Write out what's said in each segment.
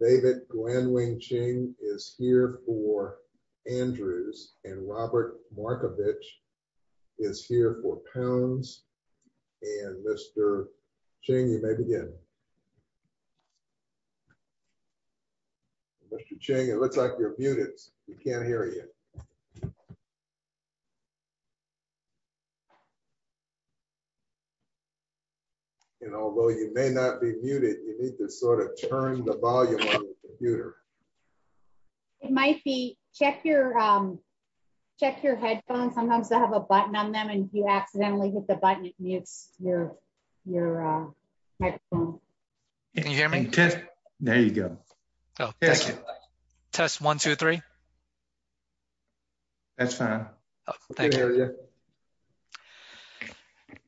David Glen Wing Ching is here for Andrews and Robert Markovitch is here for Pounds and Mr. Ching, you may begin. Mr. Ching, it looks like you're muted. We can't hear you. And although you may not be muted, you need to sort of turn the volume on your computer. It might be check your, check your headphones. Sometimes they have a button on them and you can hear me. There you go. Oh, thank you. Test one, two, three. That's fine. Thank you.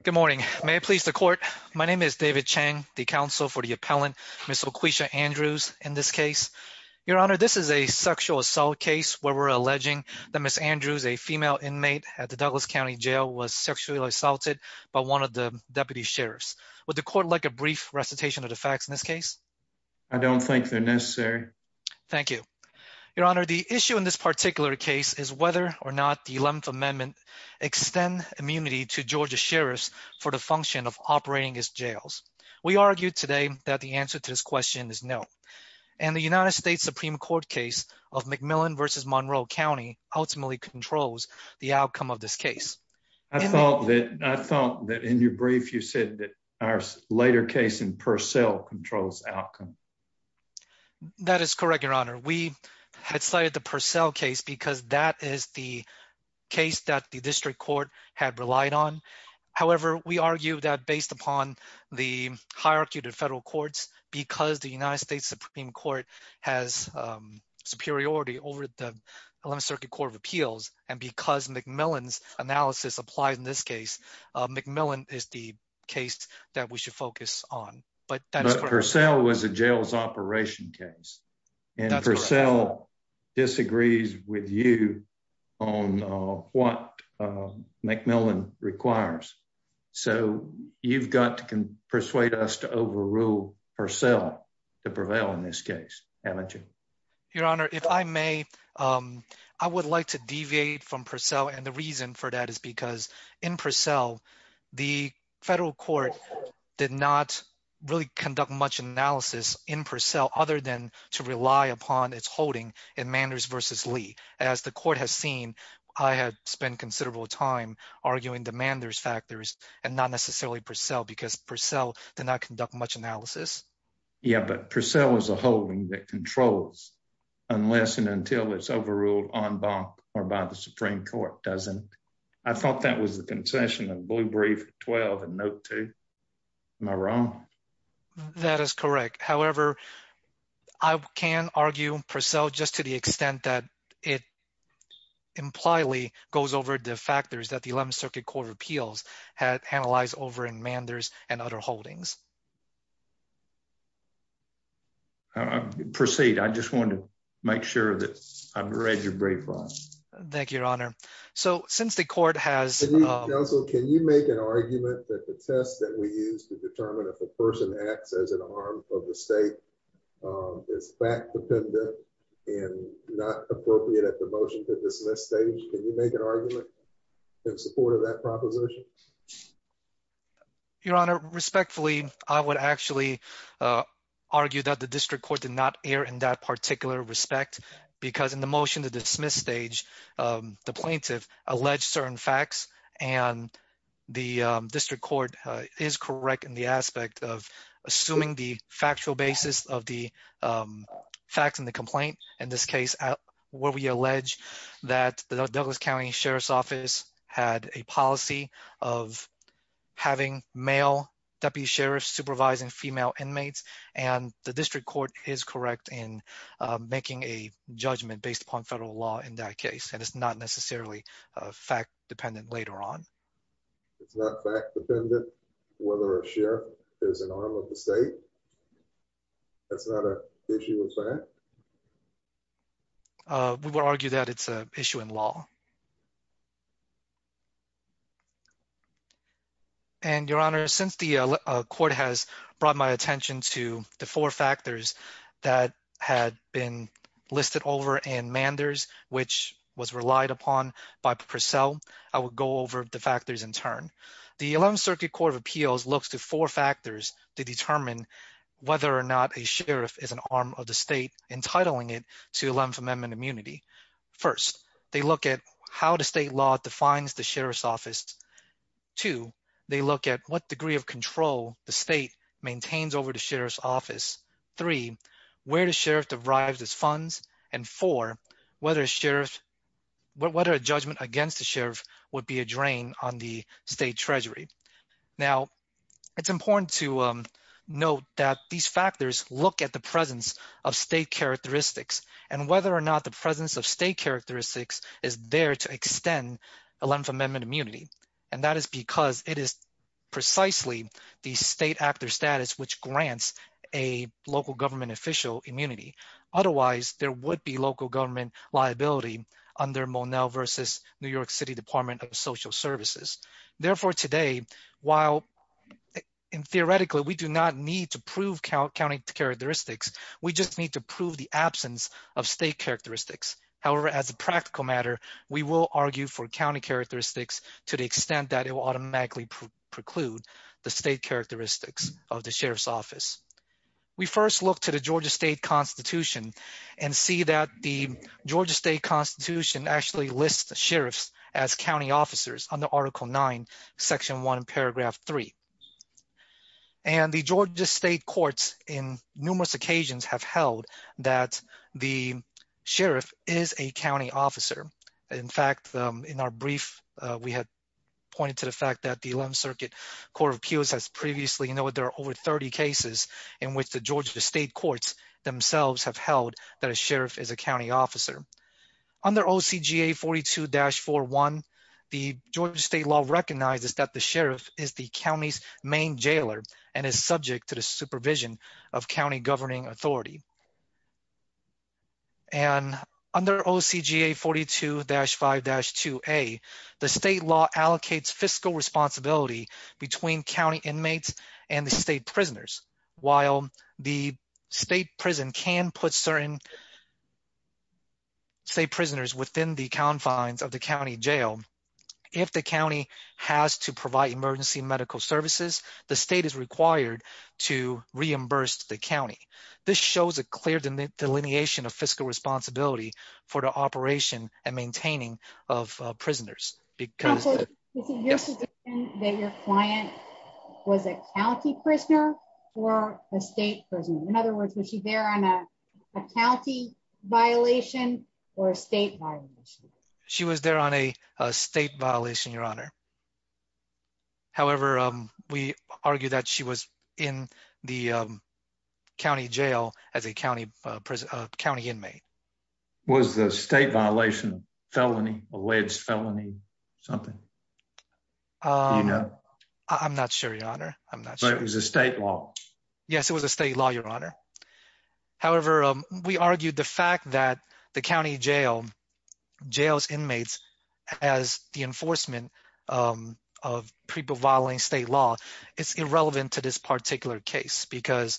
Good morning. May it please the court. My name is David Chang, the counsel for the appellant, Ms. Oqueshia Andrews in this case. Your honor, this is a sexual assault case where we're alleging that Ms. Andrews, a female inmate at the Douglas County jail was sexually assaulted by one of the deputy sheriffs. Would the court like a brief recitation of the facts in this case? I don't think they're necessary. Thank you. Your honor, the issue in this particular case is whether or not the 11th amendment extend immunity to Georgia sheriffs for the function of operating as jails. We argued today that the answer to this question is no. And the United States Supreme Court case of McMillan versus Monroe County ultimately controls the outcome of this case. I thought that, I thought that in your brief, you said that our later case in Purcell controls outcome. That is correct, your honor. We had cited the Purcell case because that is the case that the district court had relied on. However, we argue that based upon the hierarchy to federal courts, because the United States Supreme Court has superiority over the 11th Circuit Court of Appeals, and because McMillan's analysis applies in this case, McMillan is the case that we should focus on. But Purcell was a jails operation case, and Purcell disagrees with you on what McMillan requires. So you've got to persuade us to overrule Purcell to prevail in this case, haven't you? Your honor, if I may, I would like to deviate from Purcell, and the reason for that is because in Purcell, the federal court did not really conduct much analysis in Purcell other than to rely upon its holding in Manders versus Lee. As the court has seen, I have spent considerable time arguing the Manders factors and not necessarily Purcell because Purcell did not conduct much analysis. Yeah, but Purcell is a holding that controls unless and until it's overruled en banc or by the Supreme Court, doesn't it? I thought that was the concession of Blue Brief 12 and Note 2. Am I wrong? That is correct. However, I can argue Purcell just to the extent that it impliedly goes over the factors that the 11th Circuit Court of Manders and other holdings. Proceed, I just wanted to make sure that I've read your brief. Thank you, your honor. So since the court has... Counsel, can you make an argument that the test that we use to determine if a person acts as an arm of the state is fact-dependent and not appropriate at the motion to dismiss stage? Can you make an argument in support of that proposition? Your honor, respectfully, I would actually argue that the district court did not err in that particular respect because in the motion to dismiss stage, the plaintiff alleged certain facts and the district court is correct in the aspect of assuming the factual basis of the facts in the complaint. In this case, where we allege that the Douglas County Sheriff's Office had a policy of having male deputy sheriffs supervising female inmates, and the district court is correct in making a judgment based upon federal law in that case, and it's not necessarily fact-dependent later on. It's not fact-dependent whether a sheriff is an arm of the state? That's not an issue of fact? We would argue that it's an issue in law. And your honor, since the court has brought my attention to the four factors that had been listed over in Manders, which was relied upon by Purcell, I would go over the factors in turn. The 11th Circuit Court of Appeals looks to four factors to determine whether or not a sheriff is an arm of the state, entitling it to 11th Amendment immunity. First, they look at how the sheriff defines the sheriff's office. Two, they look at what degree of control the state maintains over the sheriff's office. Three, where the sheriff derives its funds. And four, whether a judgment against the sheriff would be a drain on the state treasury. Now, it's important to note that these factors look at the presence of state characteristics and whether or not the presence of state immunity. And that is because it is precisely the state actor status which grants a local government official immunity. Otherwise, there would be local government liability under Monell versus New York City Department of Social Services. Therefore, today, while theoretically we do not need to prove county characteristics, we just need to prove the absence of state characteristics. However, as a practical matter, we will argue for county characteristics to the extent that it will automatically preclude the state characteristics of the sheriff's office. We first look to the Georgia State Constitution and see that the Georgia State Constitution actually lists the sheriffs as county officers under Article 9, Section 1, Paragraph 3. And the Georgia State courts in numerous occasions have held that the sheriff is a county officer. In fact, in our brief, we had pointed to the fact that the 11th Circuit Court of Appeals has previously noted there are over 30 cases in which the Georgia State courts themselves have held that a sheriff is a county officer. Under OCGA 42-41, the Georgia State law recognizes that the jailer is subject to the supervision of county governing authority. And under OCGA 42-5-2A, the state law allocates fiscal responsibility between county inmates and the state prisoners. While the state prison can put certain state prisoners within the confines of the county jail, if the county has to provide emergency medical services, the state is required to reimburse the county. This shows a clear delineation of fiscal responsibility for the operation and maintaining of prisoners. Counselor, is it your position that your client was a county prisoner or a state prisoner? In other words, was she there on a county violation or a state violation? She was there on a state violation, Your Honor. However, we argue that she was in the county jail as a county inmate. Was the state violation a felony, alleged felony, something? I'm not sure, Your Honor. I'm not sure. But it was a state law? Yes, it was a state law, Your Honor. However, we argued the fact that the county jail inmates as the enforcement of people violating state law is irrelevant to this particular case because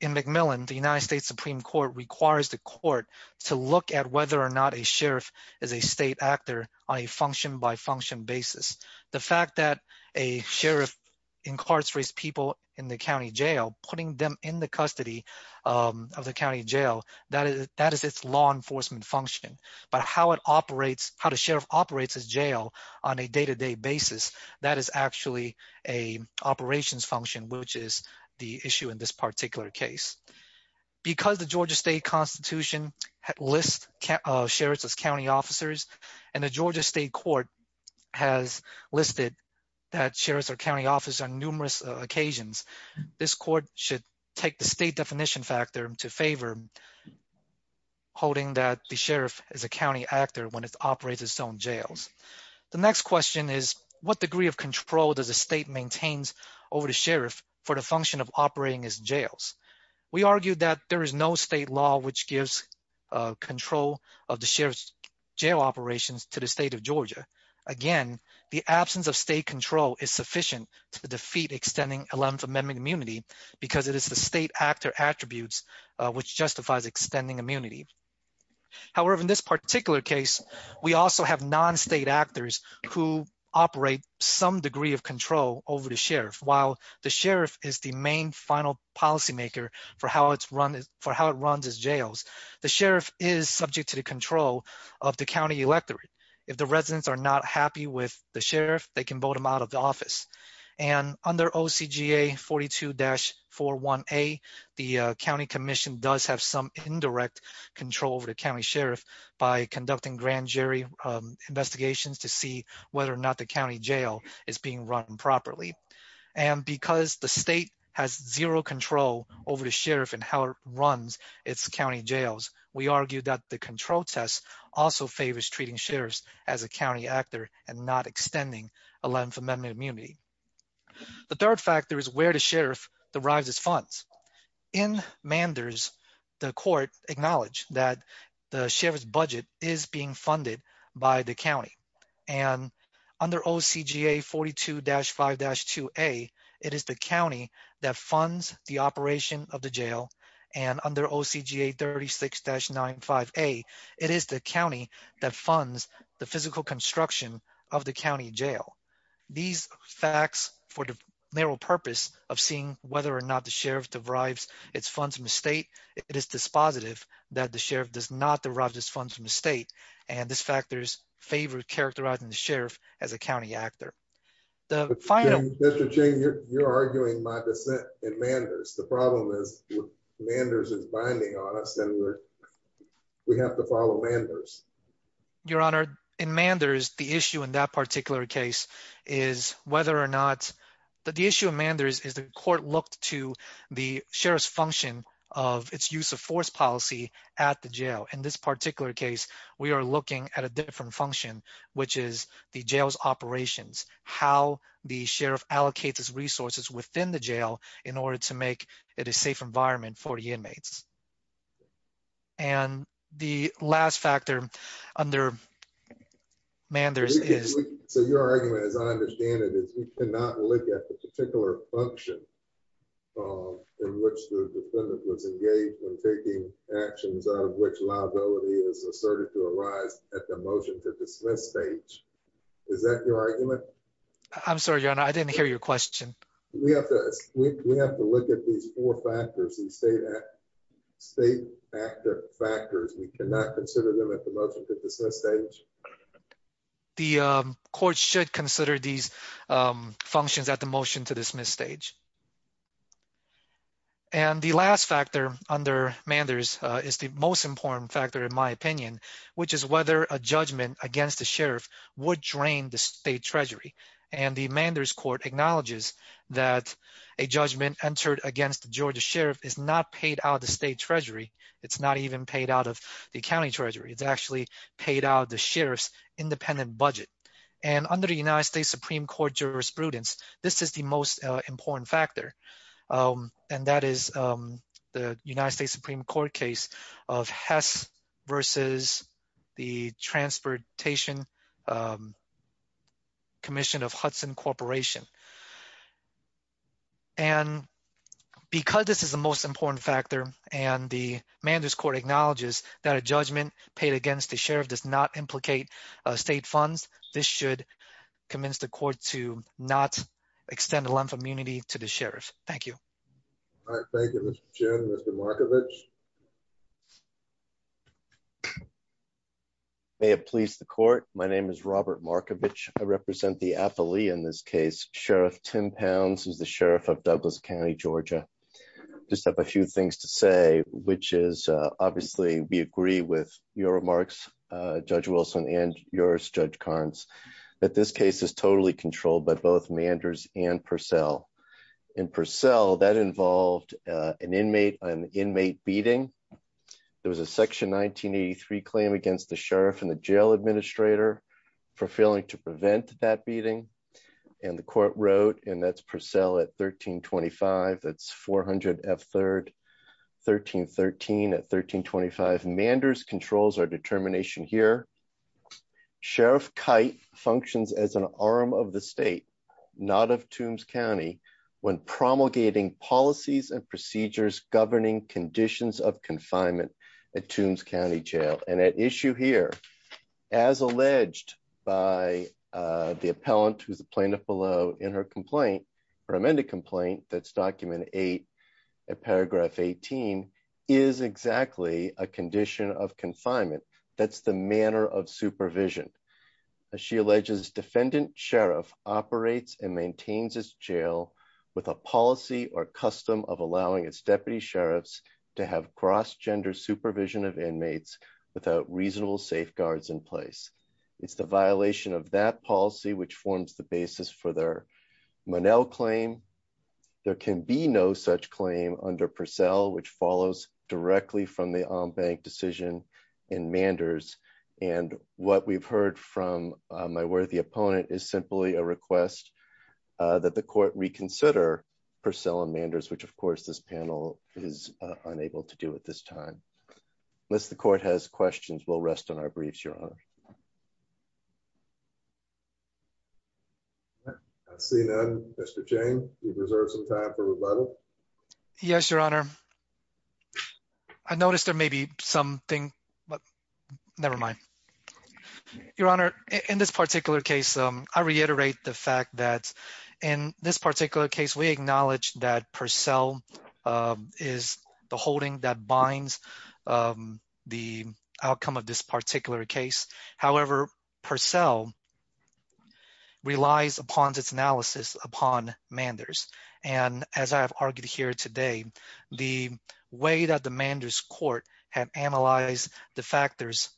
in McMillan, the United States Supreme Court requires the court to look at whether or not a sheriff is a state actor on a function-by-function basis. The fact that a sheriff incarcerates people in the county jail, putting them in the custody of the county jail, that is law enforcement function. But how it operates, how the sheriff operates his jail on a day-to-day basis, that is actually an operations function, which is the issue in this particular case. Because the Georgia State Constitution lists sheriffs as county officers and the Georgia State Court has listed that sheriffs are county officers on numerous occasions, this court should take the state definition factor to favor, holding that the sheriff is a county actor when it operates its own jails. The next question is, what degree of control does the state maintain over the sheriff for the function of operating his jails? We argued that there is no state law which gives control of the sheriff's jail operations to the state of Georgia. Again, the absence of state control is sufficient to defeat extending Eleventh Amendment immunity because it is the state actor attributes which justifies extending immunity. However, in this particular case, we also have non-state actors who operate some degree of control over the sheriff. While the sheriff is the main final policymaker for how it runs its jails, the sheriff is subject to the control of the county electorate. If the residents are not happy with the sheriff, they can vote him out of the office. Under OCGA 42-41A, the county commission does have some indirect control over the county sheriff by conducting grand jury investigations to see whether or not the county jail is being run properly. Because the state has zero control over the sheriff and how it runs its county jails, we argue that the control test also favors treating sheriffs as a county actor and not extending Eleventh Amendment immunity. The third factor is where the sheriff derives its funds. In Manders, the court acknowledged that the sheriff's budget is being funded by the county and under OCGA 42-5-2A, it is the county that funds the operation of the jail and under OCGA 36-95A, it is the county that funds the physical construction of the county jail. These facts for the mere purpose of seeing whether or not the sheriff derives its funds from the state, it is dispositive that the sheriff does not derive his funds from the state, and this factors favor characterizing the sheriff as a county actor. Mr. Ching, you're arguing my dissent in Manders. The problem is Manders is binding on us and we have to follow Manders. Your Honor, in Manders, the issue in that particular case is whether or not the issue of Manders is the court looked to the sheriff's function of its use of force policy at the jail. In this particular case, we are looking at a different function, which is the jail's operations, how the sheriff allocates his resources within the jail in order to make it a safe environment for the inmates. And the last factor under Manders is... So your argument, as I understand it, is we cannot look at the particular function in which the defendant was engaged when taking actions out of which liability is asserted to arise at the motion to dismiss stage. Is that your argument? I'm sorry, Your Honor, I didn't hear your question. We have to look at these four factors and state actor factors. We cannot consider them at the motion to dismiss stage. The court should consider these functions at the motion to dismiss stage. And the last factor under Manders is the most important factor, in my opinion, which is whether a judgment against the sheriff would drain the state treasury. And the Manders court acknowledges that a judgment entered against the Georgia sheriff is not paid out of the state treasury. It's not even paid out of the county treasury. It's actually paid out the sheriff's independent budget. And under the United States Supreme Court jurisprudence, this is the most important factor. And that is the United States Supreme Court case of Hess versus the Transportation Commission of Hudson Corporation. And because this is the most important factor, and the Manders court acknowledges that a judgment paid against the sheriff does not implicate state funds, this should convince the court to not extend a lump of immunity to the sheriff. Thank you. All right. Thank you, Mr. Chairman. Mr. Markovich. May it please the court. My name is Robert Markovich. I represent the affilee in this case, Sheriff Tim Pounds, who's the sheriff of Douglas County, Georgia. Just have a few things to say, which is, obviously, we agree with your remarks, Judge Wilson and yours, Judge Carnes, that this case is totally controlled by both Manders and Purcell. And Purcell, that involved an inmate beating. There was a section 1983 claim against the sheriff and the jail administrator for failing to prevent that beating. And the court wrote, and that's Purcell at 1325, that's 400 F3rd, 1313 at 1325. Manders controls our determination here. Sheriff Kite functions as an arm of the state, not of Toombs County, when promulgating policies and procedures governing conditions of confinement at Toombs County Jail. And at issue here, as alleged by the appellant, who's the plaintiff below in her complaint, her amended complaint, that's document eight, paragraph 18, is exactly a condition of confinement. That's the manner of supervision. As she alleges, defendant sheriff operates and maintains his jail with a policy or custom of allowing its deputy sheriffs to have cross gender supervision of inmates without reasonable safeguards in place. It's the violation of that policy, which forms the basis for their claim. There can be no such claim under Purcell, which follows directly from the on bank decision in Manders. And what we've heard from my worthy opponent is simply a request that the court reconsider Purcell and Manders, which of course this panel is unable to do at this time. Unless court has questions, we'll rest on our briefs, your honor. I see that Mr. Jane, you've reserved some time for rebuttal. Yes, your honor. I noticed there may be something, but never mind. Your honor, in this particular case, I reiterate the fact that in this particular case, we acknowledge that Purcell is the holding that binds the outcome of this particular case. However, Purcell relies upon its analysis upon Manders. And as I have argued here today, the way that the Manders court had analyzed the factors,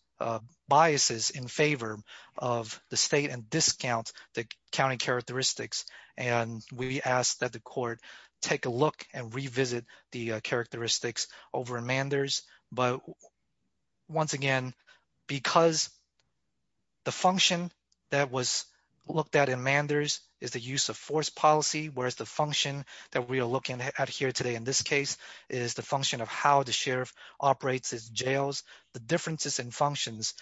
biases in favor of the state and discount the county characteristics. And we asked that the court take a look and revisit the characteristics over Manders. But once again, because the function that was looked at in Manders is the use of force policy, whereas the function that we are looking at here today in this case is the function of how the sheriff operates his jails. The differences in functions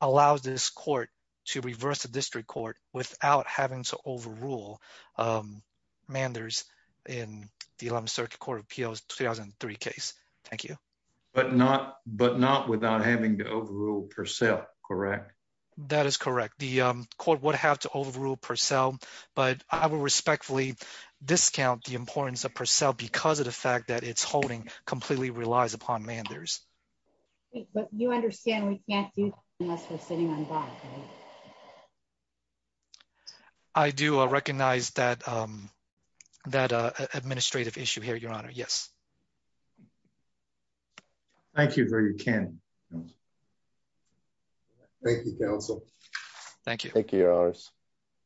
allows this court to reverse the um Manders in the 11th Circuit Court of Appeals 2003 case. Thank you. But not without having to overrule Purcell, correct? That is correct. The court would have to overrule Purcell, but I will respectfully discount the importance of Purcell because of the fact that its holding completely relies upon Manders. But you understand we can't do unless we're sitting on bond, right? Yes. I do recognize that administrative issue here, Your Honor. Yes. Thank you very much. Thank you, counsel. Thank you. Thank you, Your Honors.